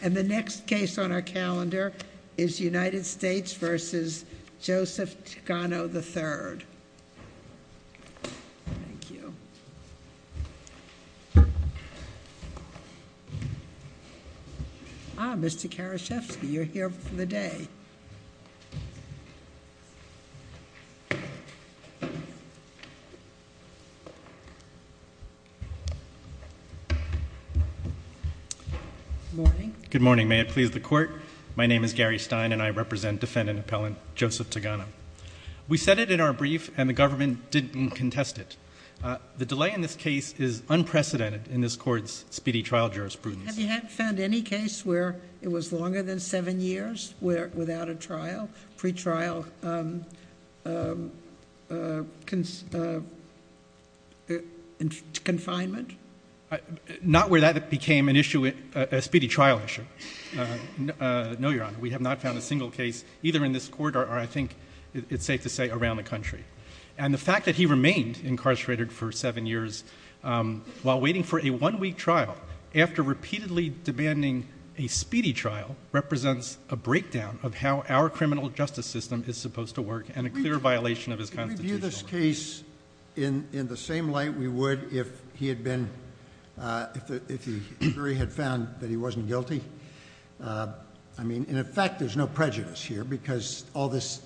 And the next case on our calendar is United States v. Joseph Ticano III. Thank you. Ah, Mr. Karashevsky, you're here for the day. Good morning. Good morning. May it please the court. My name is Gary Stein and I represent defendant appellant Joseph Tigano. We said it in our brief and the government didn't contest it. The delay in this case is unprecedented in this court's speedy trial jurisprudence. Have you found any case where it was longer than seven years without a trial, pre-trial confinement? Not where that became an issue, a speedy trial issue. No, Your Honor, we have not found a single case either in this court or I think it's safe to say around the country. And the fact that he remained incarcerated for seven years while waiting for a one-week trial after repeatedly demanding a speedy trial represents a breakdown of how our criminal justice system is supposed to work and a clear violation of his constitutional rights. Could we view this case in the same light we would if he had been, if the jury had found that he wasn't guilty? I mean, in effect, there's no prejudice here because all this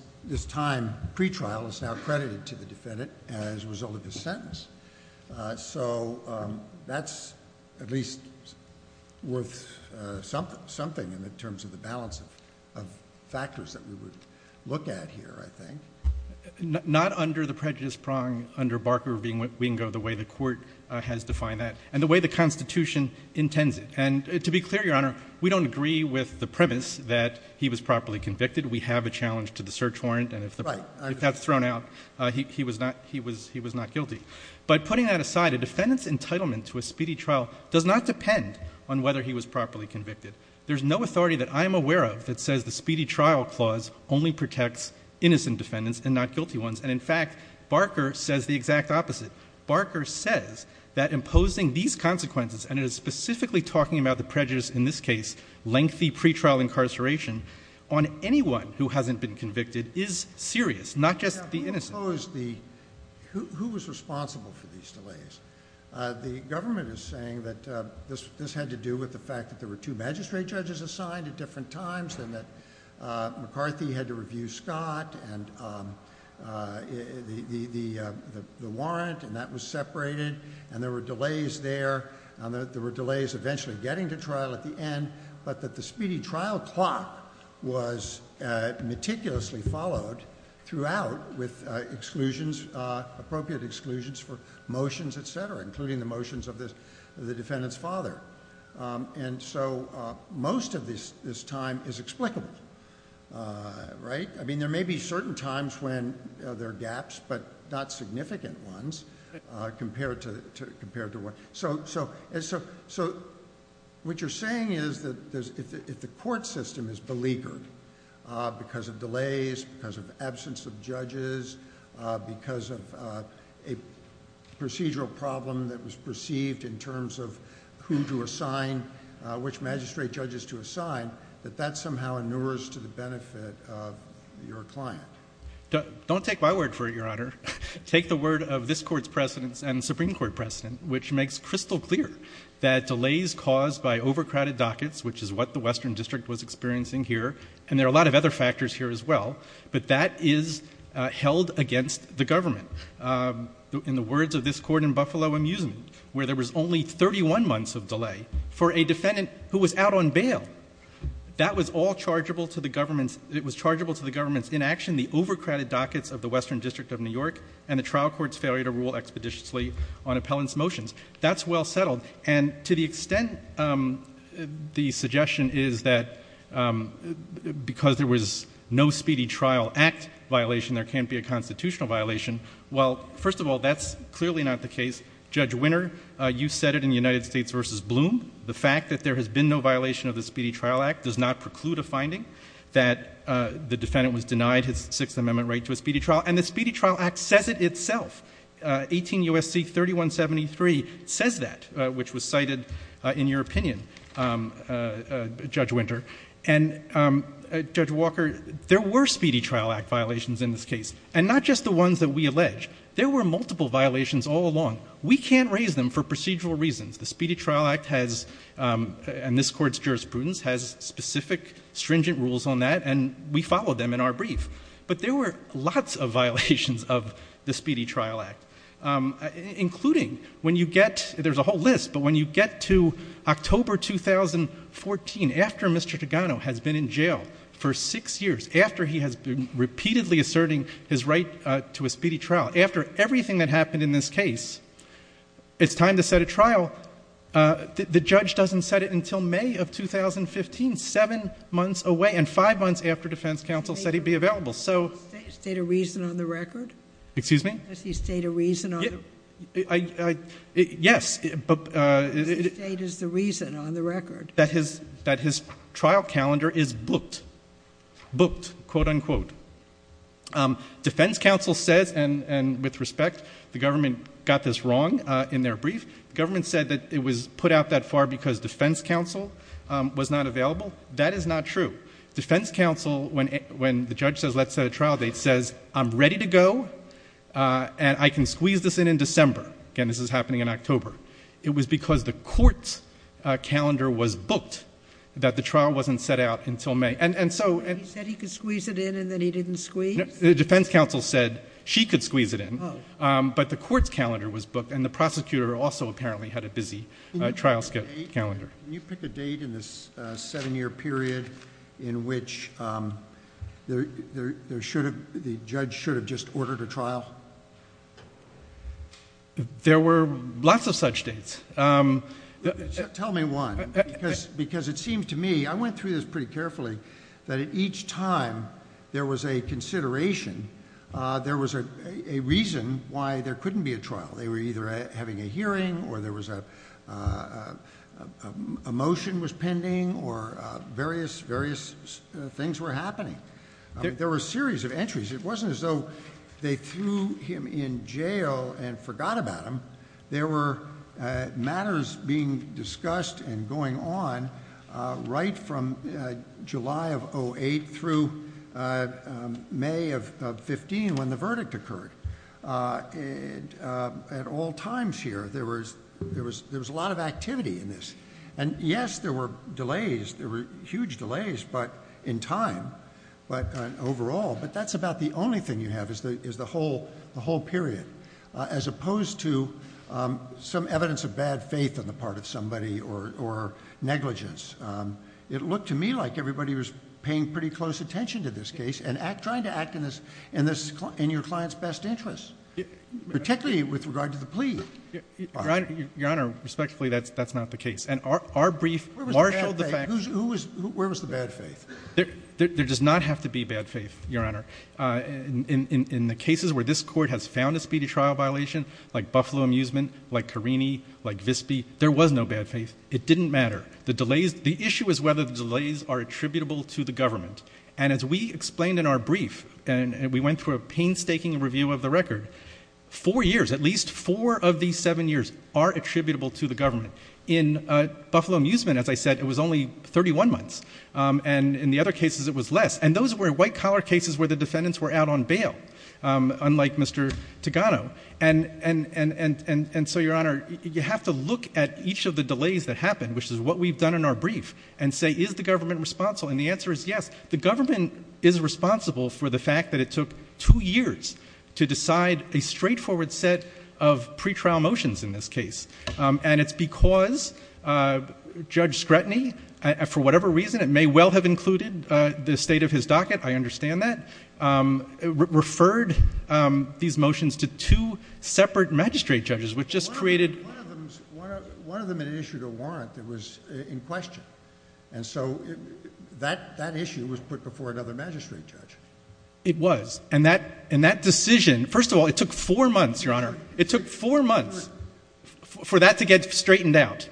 time pre-trial is now credited to the defendant as a result of his sentence. So that's at least worth something in the terms of the balance of factors that we would look at here, I think. Not under the prejudice prong under Barker being what we can go the way the court has defined that and the way the constitution intends it. And to be clear, Your Honor, we don't agree with the premise that he was properly convicted. We have a challenge to the search warrant and if that's thrown out, he was not guilty. But putting that aside, a defendant's entitlement to a speedy trial does not depend on whether he was properly convicted. There's no authority that I'm aware of that says the speedy trial clause only protects innocent defendants and not guilty ones. And in fact, Barker says the exact opposite. Barker says that imposing these consequences, and it is specifically talking about the prejudice in this case, lengthy pre-trial incarceration, on anyone who hasn't been convicted is serious, not just the innocent. Who was responsible for these delays? The government is saying that this had to do with the fact that there were two magistrate judges assigned at different times and that McCarthy had to review Scott and the warrant and that was separated and there were delays there and there were delays eventually getting to trial at the end, but that the speedy trial clock was meticulously followed throughout with appropriate exclusions for motions, et cetera, including the motions of the defendant's father. And so most of this time is explicable, right? I mean, there may be certain times when there are gaps, but not significant ones compared to what... So what you're saying is that if the court system is beleaguered because of delays, because of absence of judges, because of a procedural problem that was perceived in terms of who to assign, which magistrate judges to assign, that that somehow inures to the benefit of your client. Don't take my word for it, Your Honor. Take the word of this Court's precedents and Supreme Court precedent, which makes crystal clear that delays caused by overcrowded dockets, which is what the Western District was experiencing here, and there are a lot of other factors here as well, but that is held against the government. In the words of this Court in Buffalo Amusement, where there was only 31 months of delay for a defendant who was out on bail, that was all chargeable to the government's inaction, the overcrowded dockets of the Western District of New York and the trial court's failure to rule expeditiously on appellant's motions. That's well settled. And to the extent the suggestion is that because there was no Speedy Trial Act violation, there can't be a constitutional violation. Well, first of all, that's clearly not the case. Judge Winner, you said it in United States v. Bloom. The fact that there has been no violation of the Speedy Trial Act does not preclude a finding that the defendant was denied his Sixth Amendment right to a speedy trial, and the Speedy Trial Act says it itself. 18 U.S.C. 3173 says that, which was cited in your opinion, Judge Winter. And Judge Walker, there were Speedy Trial Act violations in this case, and not just the ones that we allege. There were multiple violations all along. We can't raise them for procedural reasons. The Speedy Trial Act has, and this Court's jurisprudence, has specific stringent rules on that, and we followed them in our brief. But there were lots of violations of the Speedy Trial Act, including when you get, there's a whole list, but when you get to October 2014, after Mr. Togano has been in jail for six years, after he has been repeatedly asserting his right to a speedy trial, after everything that happened in this case, it's time to set a trial. The judge doesn't set it until May of 2015, seven months away, and five months after defense counsel said he'd be available, so...... Does he state a reason on the record? Excuse me? Does he state a reason on the... Yes, but...... Does he state the reason on the record? That his, that his trial calendar is booked. Booked. Quote, unquote. Defense counsel says, and with respect, the government got this wrong in their brief, the government said that it was put out that far because defense counsel was not available. That is not true. Defense counsel, when, when the judge says, let's set a trial date, says, I'm ready to go and I can squeeze this in in December. Again, this is happening in October. It was because the court's calendar was booked that the trial wasn't set out until May. And, and so... He said he could squeeze it in and then he didn't squeeze? The defense counsel said she could squeeze it in. Oh. But the court's calendar was booked and the prosecutor also apparently had a busy trial calendar. Can you pick a date in this seven-year period in which there should have, the judge should have just ordered a trial? There were lots of such dates. Tell me one, because it seems to me, I went through this pretty carefully, that at each time there was a consideration, there was a reason why there couldn't be a trial. They were either having a hearing or there was a, a motion was pending or various, various things were happening. There were a series of entries. It wasn't as though they threw him in jail and forgot about him. There were matters being discussed and going on right from July of 08 through May of 15 when the verdict occurred. At all times here, there was, there was, there was a lot of activity in this. And yes, there were delays. There were huge delays, but in time, but overall, but that's about the only thing you have is the, is the whole, the whole period, as opposed to some evidence of bad faith on the part of somebody or, or negligence. It looked to me like everybody was paying pretty close attention to this case and act, trying to act in this, in this, in your client's best interest. Particularly with regard to the plea. Your Honor, respectfully, that's, that's not the case. And our, our brief marshaled the fact. Who's, who was, where was the bad faith? There, there, there does not have to be bad faith, Your Honor. Uh, in, in, in the cases where this court has found a speedy trial violation, like Buffalo Amusement, like Carini, like Visby, there was no bad faith. It didn't matter. The delays, the issue is whether the delays are attributable to the government. And as we explained in our brief, and we went through a painstaking review of the record, four years, at least four of these seven years are attributable to the government. In, uh, Buffalo Amusement, as I said, it was only 31 months. Um, and in the other cases it was less. And those were white collar cases where the defendants were out on bail. Um, unlike Mr. Togano. And, and, and, and, and, and so, Your Honor, you have to look at each of the delays that happened, which is what we've done in our brief, and say, is the government responsible? And the answer is yes. The government is responsible for the fact that it took two years to decide a straightforward set of pretrial motions in this case. Um, and it's because, uh, Judge Scretany, for whatever reason, it may well have included, uh, the state of his docket. I understand that. Um, referred, um, these motions to two separate magistrate judges, which just created— One of them, one of them, one of them had issued a warrant that was in question. And so that, that issue was put before another magistrate judge. It was. And that, and that decision, first of all, it took four months, Your Honor. It took four months for that to get straightened out.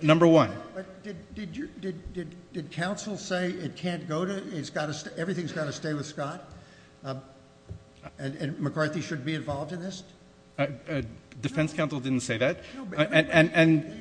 Number one. But did, did your, did, did, did counsel say it can't go to, it's got to stay, everything's got to stay with Scott? Um, and, and McCarthy should be involved in this? Uh, uh, defense counsel didn't say that. And, and, and.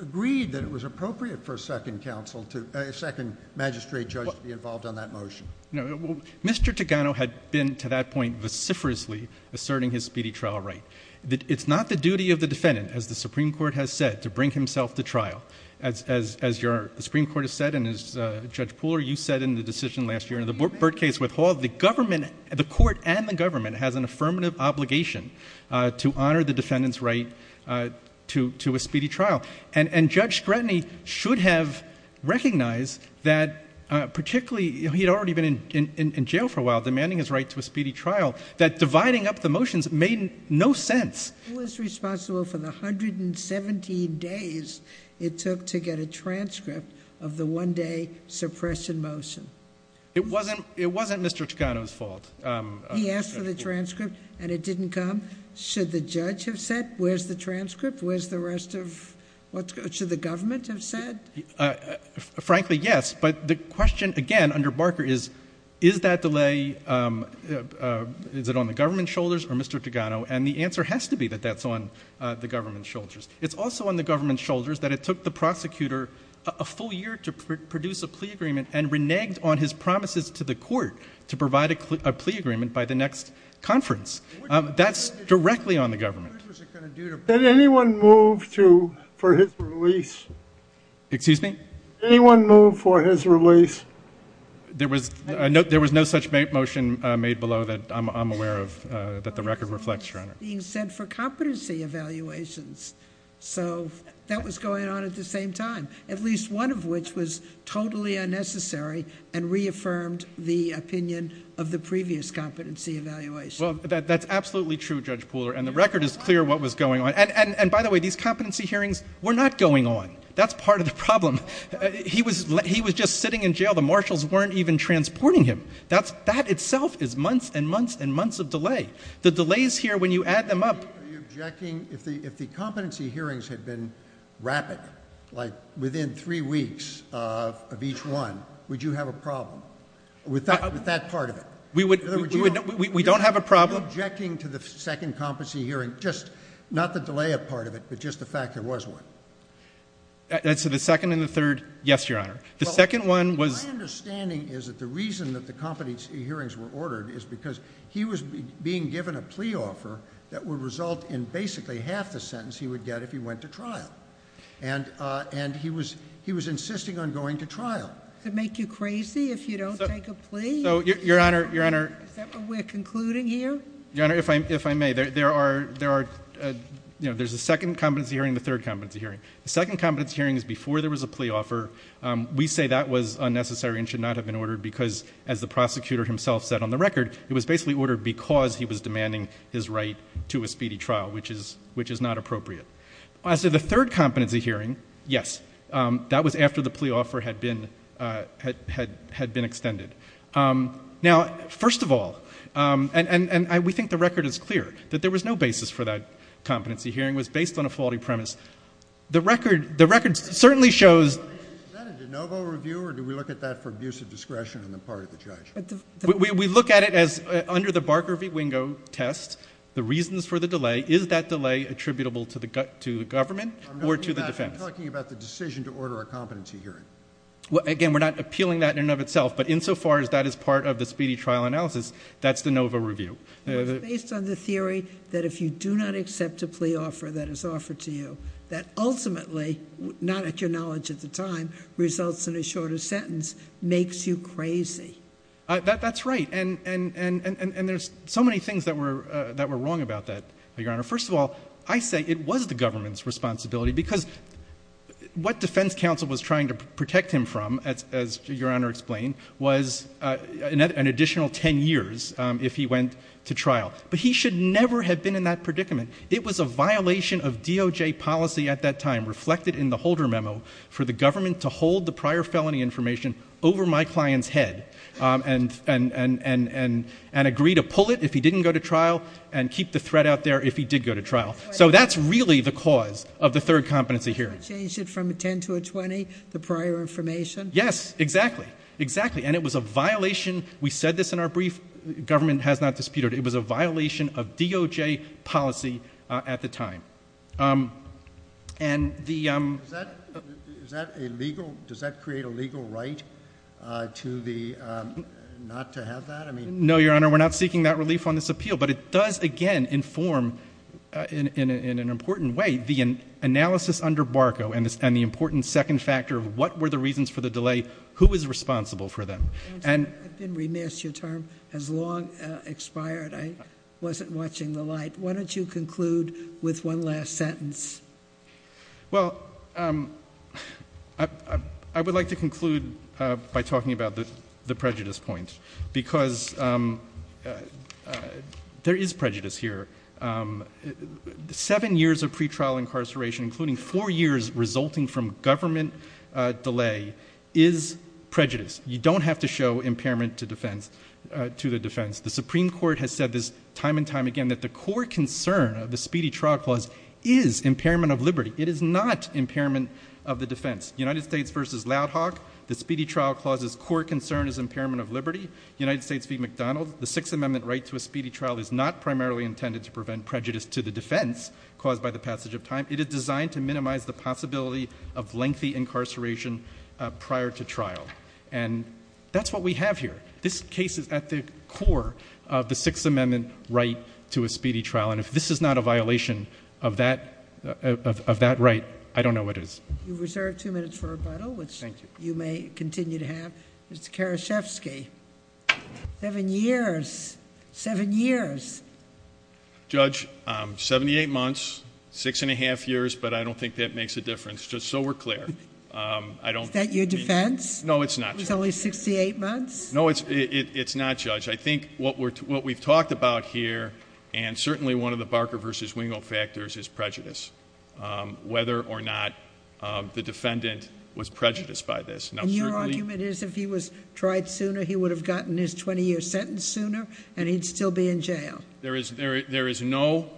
Agreed that it was appropriate for a second counsel to, uh, a second magistrate judge to be involved on that motion. No, well, Mr. Togano had been, to that point, vociferously asserting his speedy trial right. That it's not the duty of the defendant, as the Supreme Court has said, to bring himself to trial. As, as, as your, the Supreme Court has said, and as, uh, Judge Pooler, you said in the decision last year in the Burt case with Hall, the government, the court and the government has an affirmative obligation, uh, to honor the defendant's right, uh, to, to a speedy trial. And, and Judge Scrutiny should have recognized that, uh, particularly, he'd already been in, in, in jail for a while, demanding his right to a speedy trial. That dividing up the motions made no sense. It was responsible for the 117 days it took to get a transcript of the one day suppression motion. It wasn't, it wasn't Mr. Togano's fault. He asked for the transcript and it didn't come. Should the judge have said, where's the transcript? Where's the rest of what's, should the government have said? Frankly, yes. But the question, again, under Barker is, is that delay, um, uh, is it on the government's shoulders or Mr. Togano? And the answer has to be that that's on, uh, the government's shoulders. It's also on the government's shoulders that it took the prosecutor a full year to produce a plea agreement and reneged on his promises to the court to provide a plea agreement by the next conference. Um, that's directly on the government. Did anyone move to, for his release? Excuse me? Anyone move for his release? There was no, there was no such motion made below that I'm, I'm aware of, uh, that the record reflects, Your Honor. Being sent for competency evaluations. So that was going on at the same time, at least one of which was totally unnecessary and reaffirmed the opinion of the previous competency evaluation. Well, that's absolutely true, Judge Pooler. And the record is clear what was going on. And, and, and by the way, these competency hearings were not going on. That's part of the problem. He was, he was just sitting in jail. The marshals weren't even transporting him. That's, that itself is months and months and months of delay. The delays here, when you add them up. Are you objecting, if the, if the competency hearings had been rapid, like within three weeks of, of each one, would you have a problem with that, with that part of it? We would, we don't have a problem. Are you objecting to the second competency hearing? Just not the delay of part of it, but just the fact there was one. So the second and the third? Yes, Your Honor. The second one was. My understanding is that the reason that the competency hearings were ordered is because he was being given a plea offer that would result in basically half the sentence he would get if he went to trial. And, and he was, he was insisting on going to trial. To make you crazy if you don't take a plea? So, Your Honor, Your Honor. Is that what we're concluding here? Your Honor, if I, if I may, there, there are, there are, you know, there's a second competency hearing, the third competency hearing. The second competency hearing is before there was a plea offer. We say that was unnecessary and should not have been ordered because, as the prosecutor himself said on the record, it was basically ordered because he was demanding his right to a speedy trial, which is, which is not appropriate. As to the third competency hearing, yes, that was after the plea offer had been, had, had, had been extended. Now, first of all, and, and, and we think the record is clear, that there was no basis for that competency hearing. It was based on a faulty premise. The record, the record certainly shows. Is that a de novo review or do we look at that for abuse of discretion on the part of the judge? We look at it as under the Barker v. Wingo test, the reasons for the delay, is that delay attributable to the government or to the defense? I'm talking about the decision to order a competency hearing. Well, again, we're not appealing that in and of itself, but insofar as that is part of the speedy trial analysis, that's de novo review. It's based on the theory that if you do not accept a plea offer that is offered to you, that ultimately, not at your knowledge at the time, results in a shorter sentence, makes you crazy. That's right. And, and, and, and, and there's so many things that were, that were wrong about that, Your Honor. First of all, I say it was the government's responsibility because what defense counsel was trying to protect him from, as, as Your Honor explained, was an additional 10 years if he went to trial. But he should never have been in that predicament. It was a violation of DOJ policy at that time reflected in the holder memo for the government to hold the prior felony information over my client's head and, and, and, and, and, and agree to pull it if he didn't go to trial and keep the threat out there if he did go to trial. So that's really the cause of the third competency hearing. You did not change it from a 10 to a 20, the prior information? Yes, exactly. Exactly. And it was a violation. We said this in our brief. Government has not disputed. It was a violation of DOJ policy at the time. And the... Is that illegal? Does that create a legal right to the, not to have that? I mean... No, Your Honor, we're not seeking that relief on this appeal, but it does, again, inform in, in, in an important way, the analysis under Barco and the, and the important second factor of what were the reasons for the delay? Who is responsible for them? And... I've been remiss. Your term has long expired. I wasn't watching the light. Why don't you conclude with one last sentence? Well, I, I would like to conclude by talking about the, the prejudice point, because there is prejudice here. Seven years of pretrial incarceration, including four years resulting from government delay is prejudice. You don't have to show impairment to defense, to the defense. The Supreme Court has said this time and time again, that the core concern of the Speedy Trial Clause is impairment of liberty. It is not impairment of the defense. United States v. Loud Hawk, the Speedy Trial Clause's core concern is impairment of liberty. United States v. McDonald, the Sixth Amendment right to a speedy trial is not primarily intended to prevent prejudice to the defense caused by the passage of time. It is designed to minimize the possibility of lengthy incarceration prior to trial. And that's what we have here. This case is at the core of the Sixth Amendment right to a speedy trial. And if this is not a violation of that, of that right, I don't know what is. You've reserved two minutes for rebuttal, which you may continue to have. Mr. Karashevsky, seven years, seven years. Judge, 78 months, six and a half years, but I don't think that makes a difference. Just so we're clear, I don't- Is that your defense? No, it's not. It was only 68 months? No, it's not, Judge. I think what we've talked about here, and certainly one of the Barker v. Wingo factors is prejudice, whether or not the defendant was prejudiced by this. And your argument is if he was tried sooner, he would have gotten his 20-year sentence sooner and he'd still be in jail? There is no,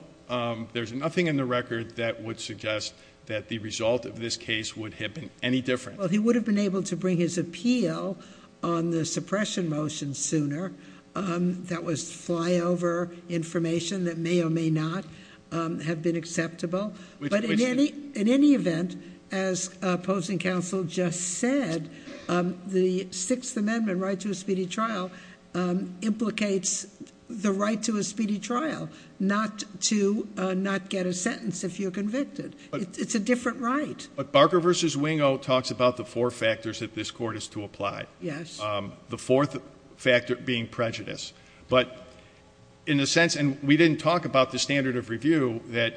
there's nothing in the record that would suggest that the result of this case would have been any different. He would have been able to bring his appeal on the suppression motion sooner. That was flyover information that may or may not have been acceptable. But in any event, as opposing counsel just said, the Sixth Amendment right to a speedy trial implicates the right to a speedy trial, not to not get a sentence if you're convicted. It's a different right. Barker v. Wingo talks about the four factors that this court is to apply. Yes. The fourth factor being prejudice. But in a sense, and we didn't talk about the standard of review, that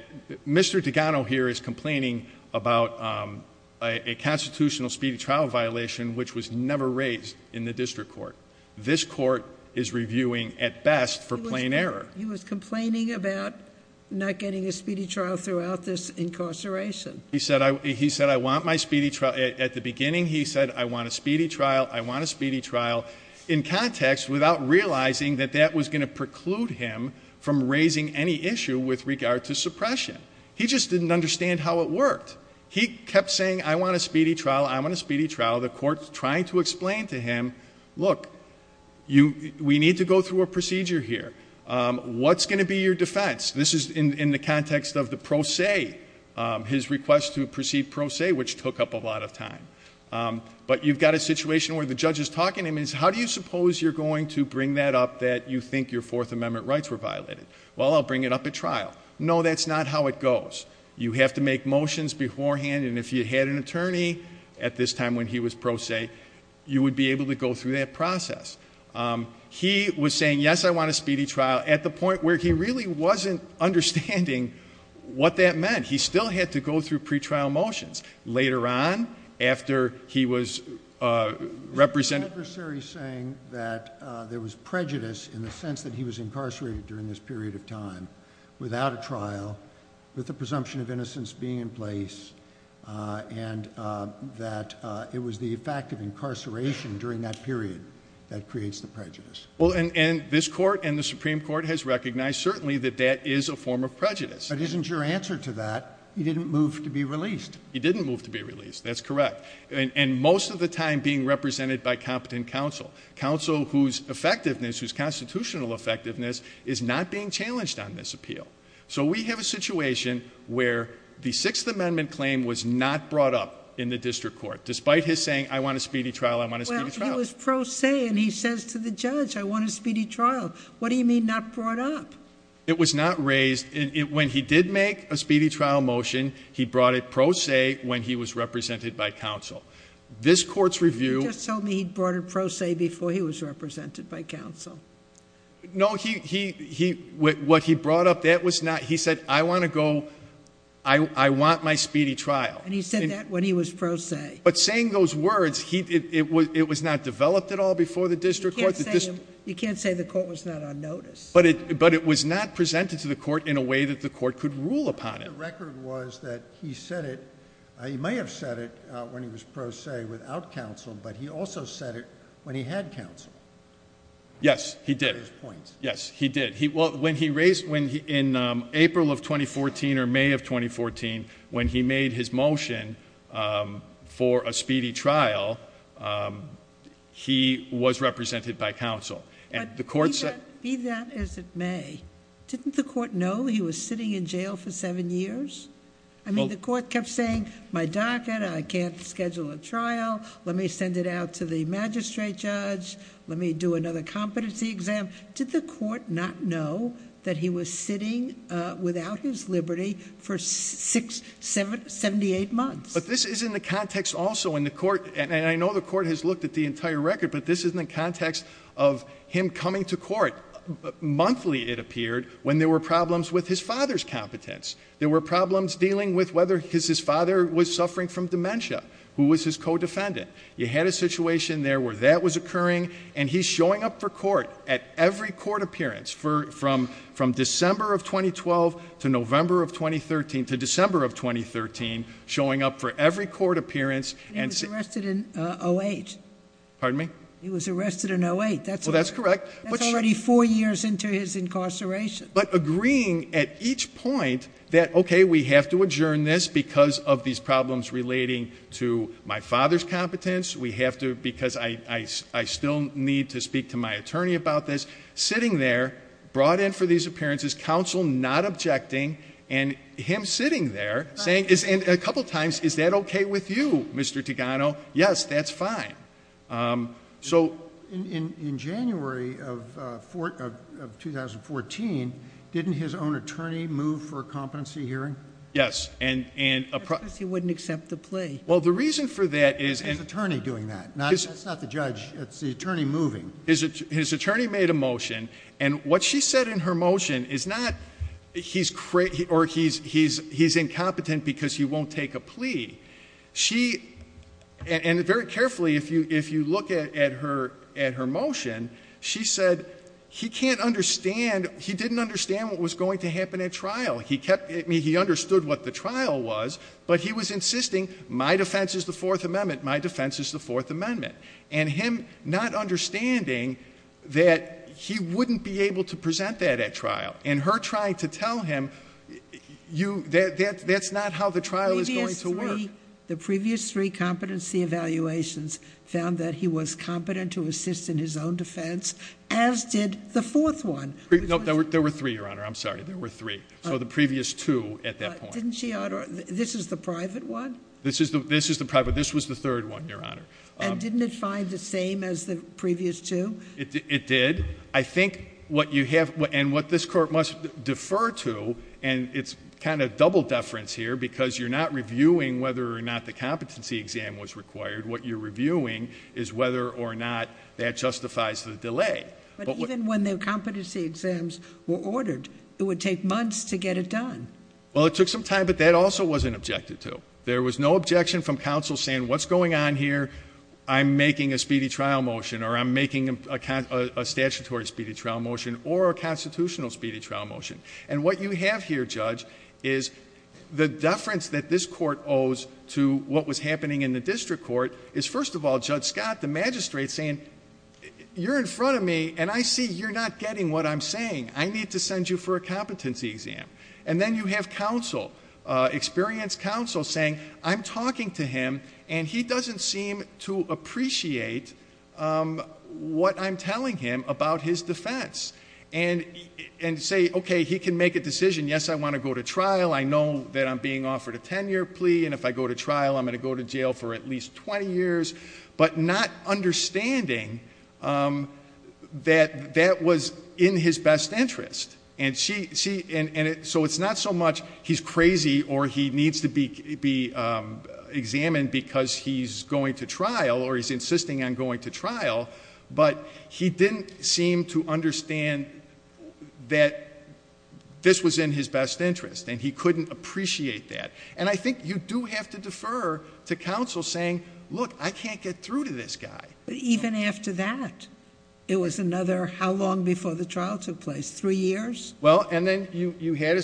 Mr. Dugano here is complaining about a constitutional speedy trial violation which was never raised in the district court. This court is reviewing, at best, for plain error. He was complaining about not getting a speedy trial throughout this incarceration. He said, I want my speedy trial. At the beginning, he said, I want a speedy trial. I want a speedy trial. In context, without realizing that that was going to preclude him from raising any issue with regard to suppression. He just didn't understand how it worked. He kept saying, I want a speedy trial. I want a speedy trial. The court's trying to explain to him, look, we need to go through a procedure here. What's going to be your defense? This is in the context of the pro se. His request to proceed pro se, which took up a lot of time. But you've got a situation where the judge is talking to him. How do you suppose you're going to bring that up, that you think your Fourth Amendment rights were violated? Well, I'll bring it up at trial. No, that's not how it goes. You have to make motions beforehand. And if you had an attorney at this time when he was pro se, you would be able to go through that process. He was saying, yes, I want a speedy trial. At the point where he really wasn't understanding what that meant, he still had to go through pre-trial motions. Later on, after he was represented. Is the adversary saying that there was prejudice in the sense that he was incarcerated during this period of time without a trial, with the presumption of innocence being in place, and that it was the fact of incarceration during that period that creates the prejudice? Well, and this court and the Supreme Court has recognized, certainly, that that is a form of prejudice. But isn't your answer to that? He didn't move to be released. He didn't move to be released. That's correct. And most of the time being represented by competent counsel. Counsel whose effectiveness, whose constitutional effectiveness, is not being challenged on this appeal. So we have a situation where the Sixth Amendment claim was not brought up in the district court, despite his saying, I want a speedy trial. I want a speedy trial. He was pro se, and he says to the judge, I want a speedy trial. What do you mean not brought up? It was not raised. When he did make a speedy trial motion, he brought it pro se when he was represented by counsel. This court's review. You just told me he brought it pro se before he was represented by counsel. No, what he brought up, that was not. He said, I want to go. I want my speedy trial. And he said that when he was pro se. But saying those words, it was not developed at all before the district court. You can't say the court was not on notice. But it was not presented to the court in a way that the court could rule upon it. The record was that he said it. He may have said it when he was pro se without counsel, but he also said it when he had counsel. Yes, he did. Yes, he did. When he raised, in April of 2014 or May of 2014, when he made his motion for a speedy trial, he was represented by counsel. Be that as it may, didn't the court know he was sitting in jail for seven years? I mean, the court kept saying, my docket, I can't schedule a trial. Let me send it out to the magistrate judge. Let me do another competency exam. Did the court not know that he was sitting without his liberty for 78 months? But this is in the context also in the court, and I know the court has looked at the entire record, but this is in the context of him coming to court. Monthly, it appeared, when there were problems with his father's competence. There were problems dealing with whether his father was suffering from dementia, who was his co-defendant. You had a situation there where that was occurring, and he's showing up for court at every court appearance, from December of 2012 to November of 2013, to December of 2013, showing up for every court appearance and- He was arrested in 08. Pardon me? He was arrested in 08, that's- Well, that's correct. That's already four years into his incarceration. But agreeing at each point that, okay, we have to adjourn this because of these problems relating to my father's competence. Because I still need to speak to my attorney about this. Sitting there, brought in for these appearances, counsel not objecting, and him sitting there saying, and a couple times, is that okay with you, Mr. Tigano? Yes, that's fine. So- In January of 2014, didn't his own attorney move for a competency hearing? Yes, and- Because he wouldn't accept the plea. Well, the reason for that is- His attorney doing that, that's not the judge, it's the attorney moving. His attorney made a motion, and what she said in her motion is not, he's incompetent because he won't take a plea. She, and very carefully, if you look at her motion, she said, he can't understand, he didn't understand what was going to happen at trial. He kept, he understood what the trial was, but he was insisting, my defense is the Fourth Amendment, my defense is the Fourth Amendment. And him not understanding that he wouldn't be able to present that at trial. And her trying to tell him, that's not how the trial is going to work. The previous three competency evaluations found that he was competent to assist in his own defense, as did the fourth one. No, there were three, Your Honor, I'm sorry, there were three. So the previous two at that point. Didn't she, Your Honor, this is the private one? This is the private, this was the third one, Your Honor. And didn't it find the same as the previous two? It did. I think what you have, and what this court must defer to, and it's kind of double deference here, because you're not reviewing whether or not the competency exam was required. What you're reviewing is whether or not that justifies the delay. But even when the competency exams were ordered, it would take months to get it done. Well, it took some time, but that also wasn't objected to. There was no objection from counsel saying, what's going on here? I'm making a speedy trial motion, or I'm making a statutory speedy trial motion, or a constitutional speedy trial motion. And what you have here, Judge, is the deference that this court owes to what was happening in the district court is, first of all, Judge Scott, the magistrate saying, you're in front of me, and I see you're not getting what I'm saying. I need to send you for a competency exam. And then you have counsel, experienced counsel saying, I'm talking to him, and he doesn't seem to appreciate what I'm telling him about his defense. And say, OK, he can make a decision. Yes, I want to go to trial. I know that I'm being offered a 10-year plea. And if I go to trial, I'm going to go to jail for at least 20 years. But not understanding that that was in his best interest. And so it's not so much he's crazy, or he needs to be examined because he's going to trial, or he's insisting on going to trial. But he didn't seem to understand that this was in his best interest. And he couldn't appreciate that. And I think you do have to defer to counsel saying, look, I can't get through to this guy. But even after that, it was another how long before the trial took place? Three years? Well, and then you had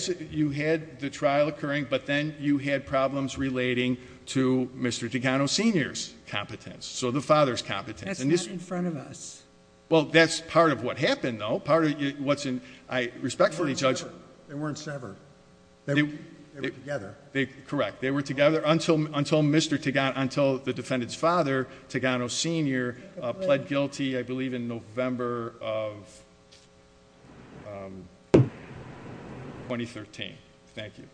the trial occurring. But then you had problems relating to Mr. Tigano Sr.'s competence. So the father's competence. That's not in front of us. Well, that's part of what happened, though. I respectfully judge. They weren't severed. They were together. Correct. They were together until the defendant's father, Tigano Sr., pled guilty, I believe, in November of 2013. Thank you.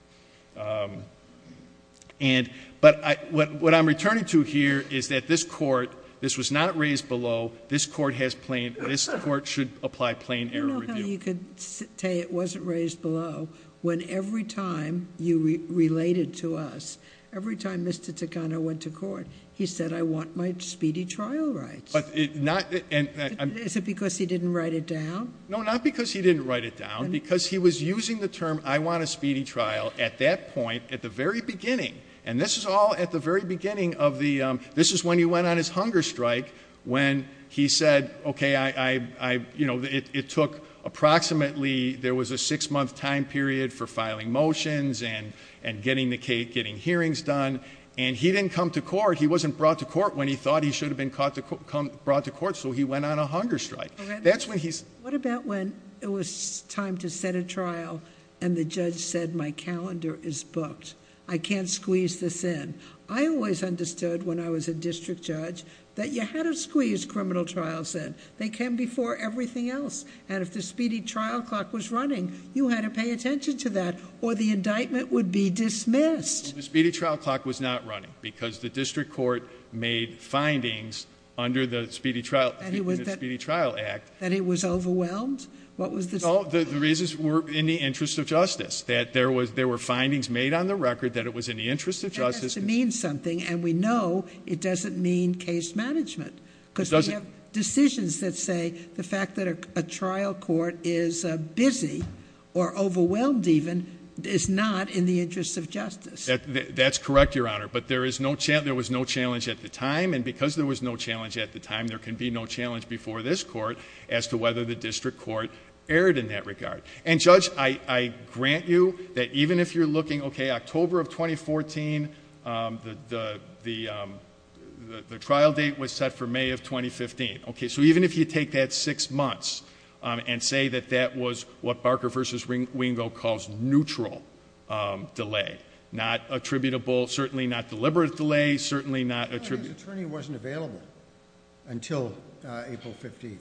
But what I'm returning to here is that this court, this was not raised below. This court should apply plain error review. You could say it wasn't raised below when every time you related to us, every time Mr. Tigano went to court, he said, I want my speedy trial rights. Is it because he didn't write it down? No, not because he didn't write it down. Because he was using the term, I want a speedy trial, at that point, at the very beginning. And this is all at the very beginning of the, this is when he went on his hunger strike, when he said, okay, I, you know, it took approximately, there was a six-month time period for filing motions and getting hearings done. And he didn't come to court. He wasn't brought to court when he thought he should have been brought to court. So he went on a hunger strike. That's when he's- What about when it was time to set a trial and the judge said, my calendar is booked. I can't squeeze this in. I always understood when I was a district judge that you had to squeeze criminal trials in. They came before everything else. And if the speedy trial clock was running, you had to pay attention to that or the indictment would be dismissed. The speedy trial clock was not running because the district court made findings under the Speedy Trial Act- That it was overwhelmed? What was the- No, the reasons were in the interest of justice. That there was, there were findings made on the record that it was in the interest of justice- That has to mean something. And we know it doesn't mean case management. Because we have decisions that say the fact that a trial court is busy or overwhelmed even, is not in the interest of justice. That's correct, Your Honor. But there is no, there was no challenge at the time. And because there was no challenge at the time, there can be no challenge before this court as to whether the district court erred in that regard. And Judge, I grant you that even if you're looking, okay, October of 2014, the trial date was set for May of 2015. Okay, so even if you take that six months and say that that was what Barker v. Wingo calls neutral delay, not attributable, certainly not deliberate delay, certainly not- His attorney wasn't available until April 15th.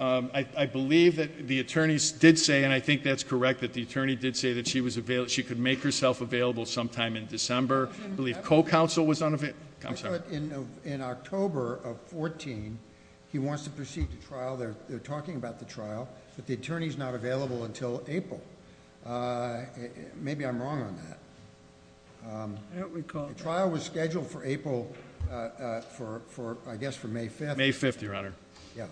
I believe that the attorneys did say, and I think that's correct, that the attorney did say that she was available, she could make herself available sometime in December. I believe co-counsel was unavailable. I'm sorry. In October of 14, he wants to proceed to trial. They're talking about the trial. But the attorney's not available until April. Maybe I'm wrong on that. I don't recall. The trial was scheduled for April, I guess for May 5th. May 5th, Your Honor. Yeah.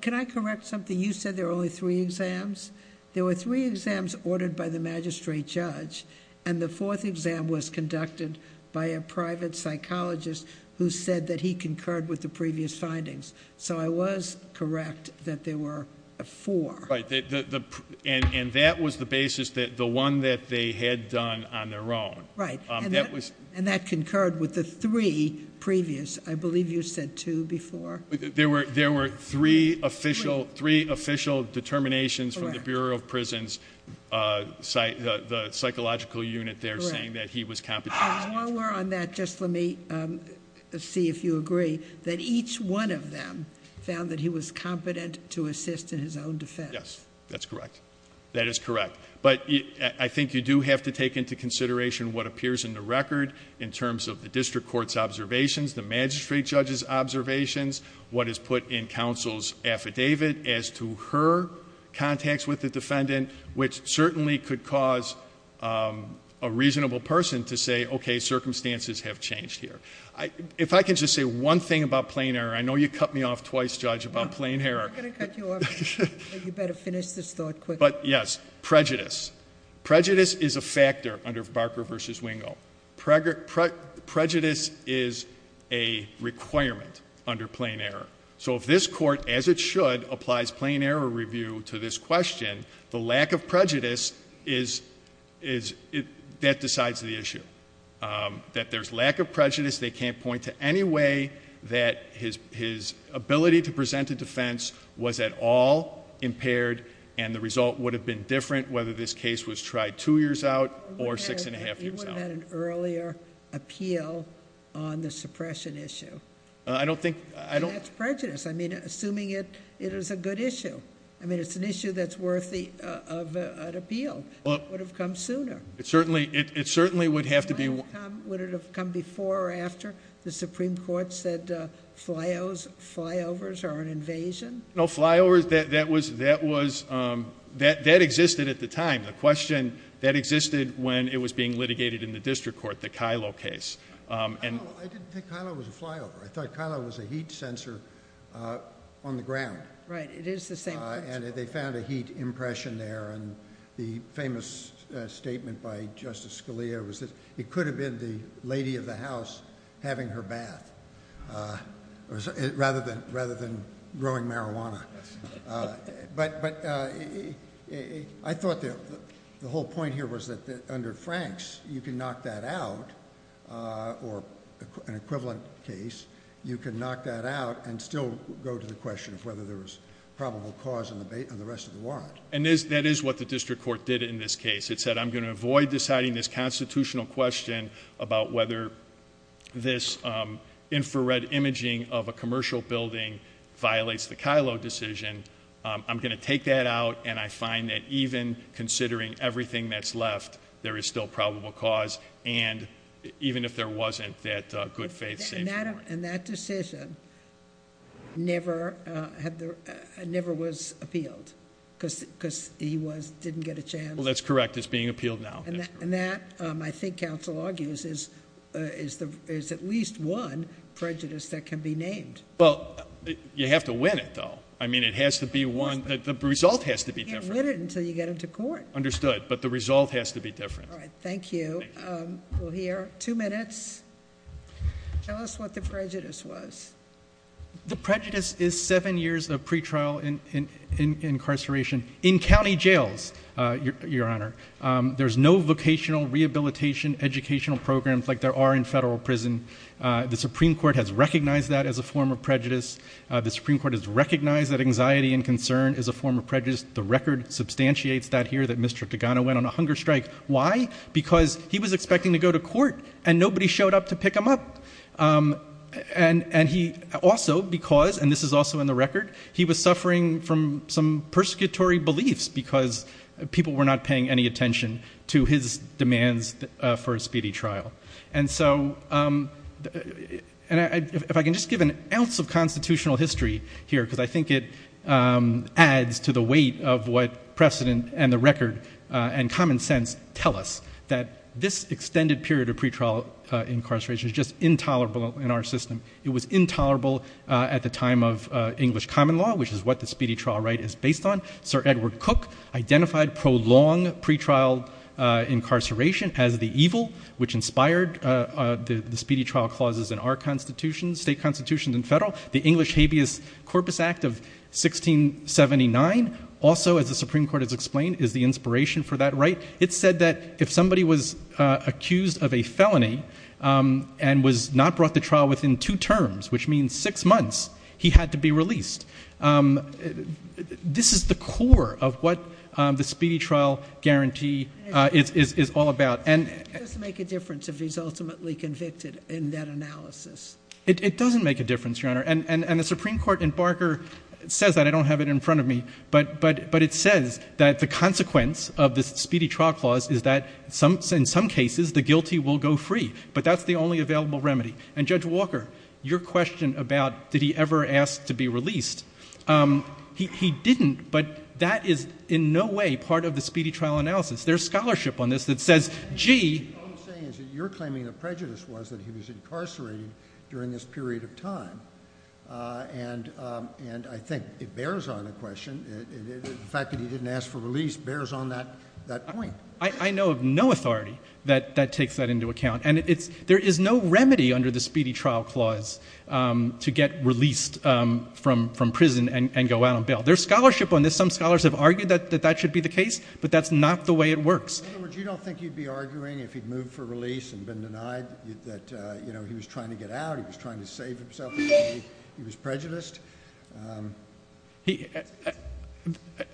Can I correct something? You said there were only three exams. There were three exams ordered by the magistrate judge, and the fourth exam was conducted by a private psychologist who said that he concurred with the previous findings. So I was correct that there were four. Right, and that was the basis, the one that they had done on their own. Right. And that concurred with the three previous. I believe you said two before. There were three official determinations from the Bureau of Prisons, the psychological unit there saying that he was competent. I'm more aware on that, just let me see if you agree, that each one of them found that he was competent to assist in his own defense. Yes, that's correct. That is correct. But I think you do have to take into consideration what appears in the record in terms of the district court's observations, the magistrate judge's observations, what is put in counsel's affidavit as to her contacts with the defendant, which certainly could cause a reasonable person to say, okay, circumstances have changed here. If I can just say one thing about plain error. I know you cut me off twice, Judge, about plain error. I'm not going to cut you off. You better finish this thought quickly. Yes, prejudice. Prejudice is a factor under Barker v. Wingo. Prejudice is a requirement under plain error. So if this court, as it should, applies plain error review to this question, the lack of prejudice, that decides the issue. That there's lack of prejudice, they can't point to any way that his ability to present a defense was at all impaired, and the result would have been different, whether this case was tried two years out or six and a half years out. You would have had an earlier appeal on the suppression issue. I don't think, I don't- That's prejudice. I mean, assuming it is a good issue. I mean, it's an issue that's worthy of an appeal. It would have come sooner. It certainly would have to be- Would it have come before or after the Supreme Court said flyovers are an invasion? No, flyovers, that existed at the time. The question, that existed when it was being litigated in the district court, the Kylo case. I didn't think Kylo was a flyover. I thought Kylo was a heat sensor on the ground. Right, it is the same principle. And they found a heat impression there. And the famous statement by Justice Scalia was that it could have been the lady of the house having her bath, rather than growing marijuana. But I thought the whole point here was that under Franks, you can knock that out, or an equivalent case, you can knock that out and still go to the question of whether there was probable cause on the rest of the warrant. And that is what the district court did in this case. It said, I'm going to avoid deciding this constitutional question about whether this infrared imaging of a commercial building violates the Kylo decision. I'm going to take that out, and I find that even considering everything that's left, there is still probable cause. And even if there wasn't, that good faith safe warrant. And that decision never was appealed, because he didn't get a chance. That's correct. It's being appealed now. And that, I think counsel argues, is at least one prejudice that can be named. Well, you have to win it, though. I mean, it has to be one. The result has to be different. You can't win it until you get into court. Understood. But the result has to be different. All right. Thank you. We'll hear. Two minutes. Tell us what the prejudice was. The prejudice is seven years of pretrial incarceration in county jails, Your Honor. There's no vocational rehabilitation educational programs like there are in federal prison. The Supreme Court has recognized that as a form of prejudice. The Supreme Court has recognized that anxiety and concern is a form of prejudice. The record substantiates that here, that Mr. Tagano went on a hunger strike. Why? Because he was expecting to go to court, and nobody showed up to pick him up. And he also, because, and this is also in the record, he was suffering from some persecutory beliefs because people were not paying any attention to his demands for a speedy trial. And so, and if I can just give an ounce of constitutional history here, because I think it adds to the weight of what precedent and the record and common sense tell us, that this extended period of pretrial incarceration is just intolerable in our system. It was intolerable at the time of English common law, which is what the speedy trial right is based on. Sir Edward Cook identified prolonged pretrial incarceration as the evil, which inspired the speedy trial clauses in our constitution, state constitution and federal. The English Habeas Corpus Act of 1679, also, as the Supreme Court has explained, is the inspiration for that right. It said that if somebody was accused of a felony and was not brought to trial within two terms, which means six months, he had to be released. This is the core of what the speedy trial guarantee is all about. And it doesn't make a difference if he's ultimately convicted in that analysis. It doesn't make a difference, Your Honor. And the Supreme Court in Barker says that. I don't have it in front of me. But it says that the consequence of this speedy trial clause is that in some cases, the guilty will go free. But that's the only available remedy. And Judge Walker, your question about did he ever ask to be released, he didn't. But that is in no way part of the speedy trial analysis. There's scholarship on this that says, gee. What I'm saying is that you're claiming the prejudice was that he was incarcerated during this period of time. And I think it bears on the question. The fact that he didn't ask for release bears on that point. I know of no authority that takes that into account. There is no remedy under the speedy trial clause to get released from prison and go out on bail. There's scholarship on this. Some scholars have argued that that should be the case. But that's not the way it works. In other words, you don't think he'd be arguing if he'd moved for release and been denied that he was trying to get out, he was trying to save himself, he was prejudiced?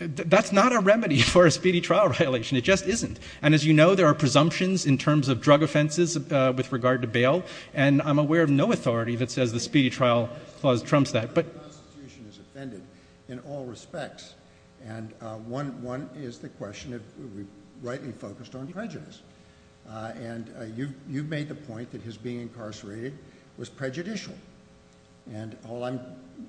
That's not a remedy for a speedy trial violation. It just isn't. And as you know, there are presumptions in terms of drug offenses with regard to bail. And I'm aware of no authority that says the speedy trial clause trumps that. But the Constitution is offended in all respects. And one is the question of rightly focused on prejudice. And you've made the point that his being incarcerated was prejudicial. And all I'm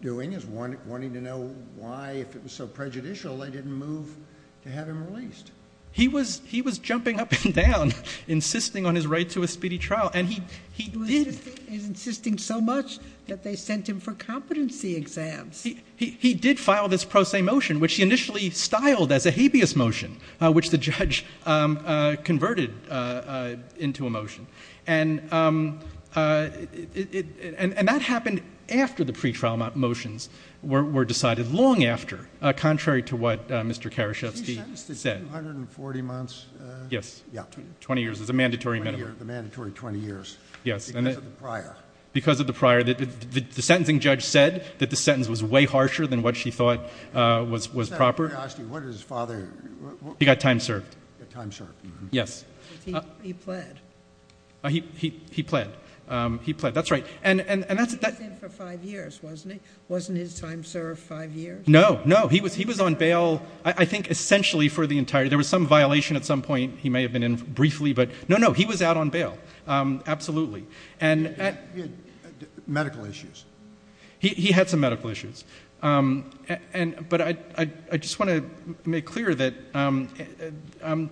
doing is wanting to know why, if it was so prejudicial, they didn't move to have him released. He was jumping up and down, insisting on his right to a speedy trial. And he did. He was insisting so much that they sent him for competency exams. He did file this pro se motion, which he initially styled as a habeas motion, which the judge converted into a motion. And that happened after the pretrial motions were decided, long after, contrary to what Mr. Karaszewski said. He sentenced to 240 months? Yes. Yeah. 20 years is a mandatory minimum. The mandatory 20 years. Yes. Because of the prior. Because of the prior. The sentencing judge said that the sentence was way harsher than what she thought was proper. Mr. Karaszewski, what did his father... He got time served. Time served. Yes. He pled. He pled. He pled. That's right. And that's... He was in for five years, wasn't he? Wasn't his time served five years? No, no. He was on bail, I think, essentially for the entire... There was some violation at some point. He may have been in briefly, but... No, no. He was out on bail. Absolutely. And... He had medical issues. He had some medical issues. But I just want to make clear that Mr.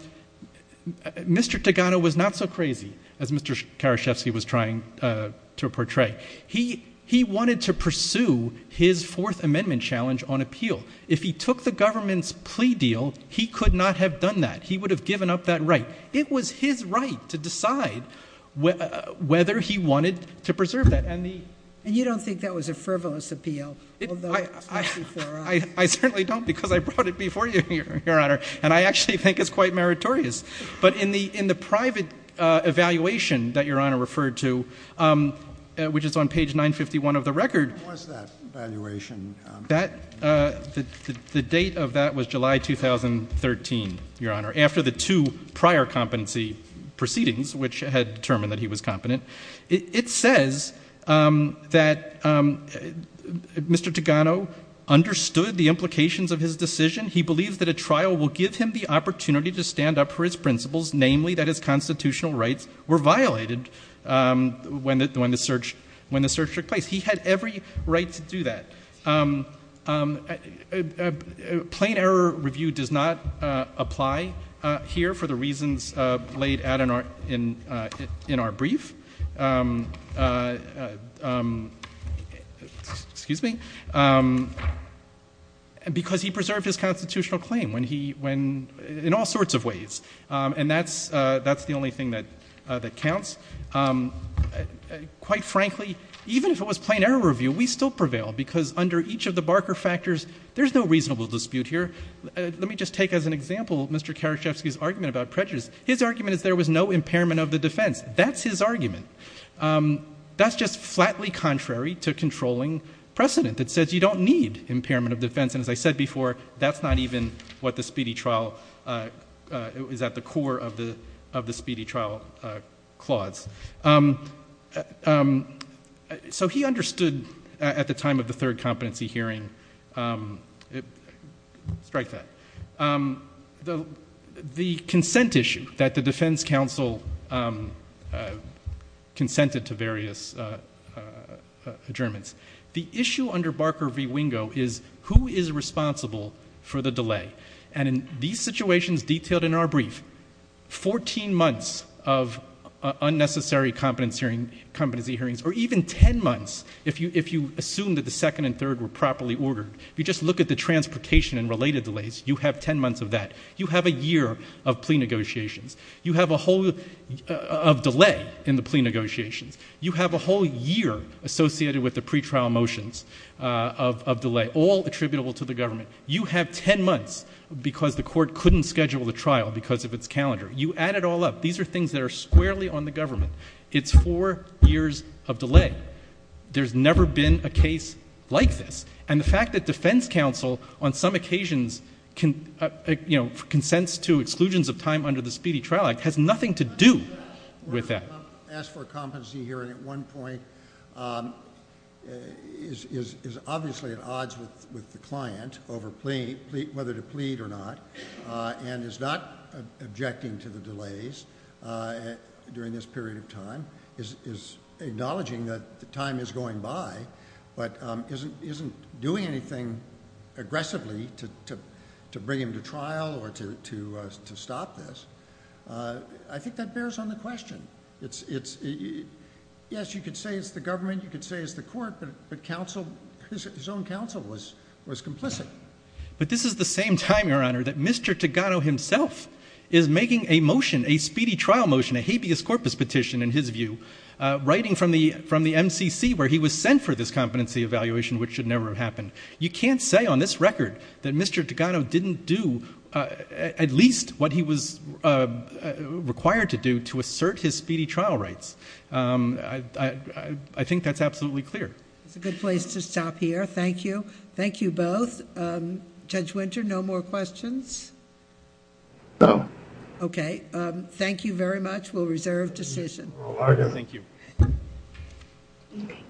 Togano was not so crazy as Mr. Karaszewski was trying to portray. He wanted to pursue his Fourth Amendment challenge on appeal. If he took the government's plea deal, he could not have done that. He would have given up that right. It was his right to decide whether he wanted to preserve that. And the... And you don't think that was a frivolous appeal, although... I certainly don't, because I brought it before you, Your Honor. And I actually think it's quite meritorious. But in the private evaluation that Your Honor referred to, which is on page 951 of the record... What was that evaluation? That... The date of that was July 2013, Your Honor, after the two prior competency proceedings, which had determined that he was competent. It says that Mr. Togano understood the implications of his decision. He believes that a trial will give him the opportunity to stand up for his principles, namely that his constitutional rights were violated when the search took place. He had every right to do that. A plain error review does not apply here for the reasons laid out in our brief. Excuse me. Because he preserved his constitutional claim when he... In all sorts of ways. And that's the only thing that counts. Quite frankly, even if it was plain error review, we still prevail because under each of the Barker factors, there's no reasonable dispute here. Let me just take as an example Mr. Karaszewski's argument about prejudice. His argument is there was no impairment of the defense. That's his argument. That's just flatly contrary to controlling precedent. It says you don't need impairment of defense. And as I said before, that's not even what the speedy trial... It was at the core of the speedy trial clause. So, he understood at the time of the third competency hearing... Strike that. The consent issue that the defense counsel consented to various adjournments. The issue under Barker v. Wingo is who is responsible for the delay? And in these situations detailed in our brief, 14 months of unnecessary competency hearings or even 10 months if you assume that the second and third were properly ordered. If you just look at the transportation and related delays, you have 10 months of that. You have a year of plea negotiations. You have a whole of delay in the plea negotiations. You have a whole year associated with the pretrial motions of delay, all attributable to the government. You have 10 months because the court couldn't schedule the trial because of its calendar. You add it all up. These are things that are squarely on the government. It's four years of delay. There's never been a case like this. And the fact that defense counsel, on some occasions, consents to exclusions of time under the Speedy Trial Act has nothing to do with that. I'm going to ask for a competency hearing at one point. It's obviously at odds with the client over whether to plead or not. And is not objecting to the delays during this period of time. Is acknowledging that the time is going by, but isn't doing anything aggressively to bring him to trial or to stop this. I think that bears on the question. Yes, you could say it's the government. You could say it's the court. But his own counsel was complicit. But this is the same time, Your Honor, that Mr. Togano himself is making a motion, a speedy trial motion, a habeas corpus petition, in his view, writing from the MCC where he was sent for this competency evaluation, which should never have happened. You can't say on this record that Mr. Togano didn't do at least what he was required to do to assert his speedy trial rights. I think that's absolutely clear. It's a good place to stop here. Thank you. Thank you both. Judge Winter, no more questions? No. Okay. Thank you very much. We'll reserve decision. Thank you.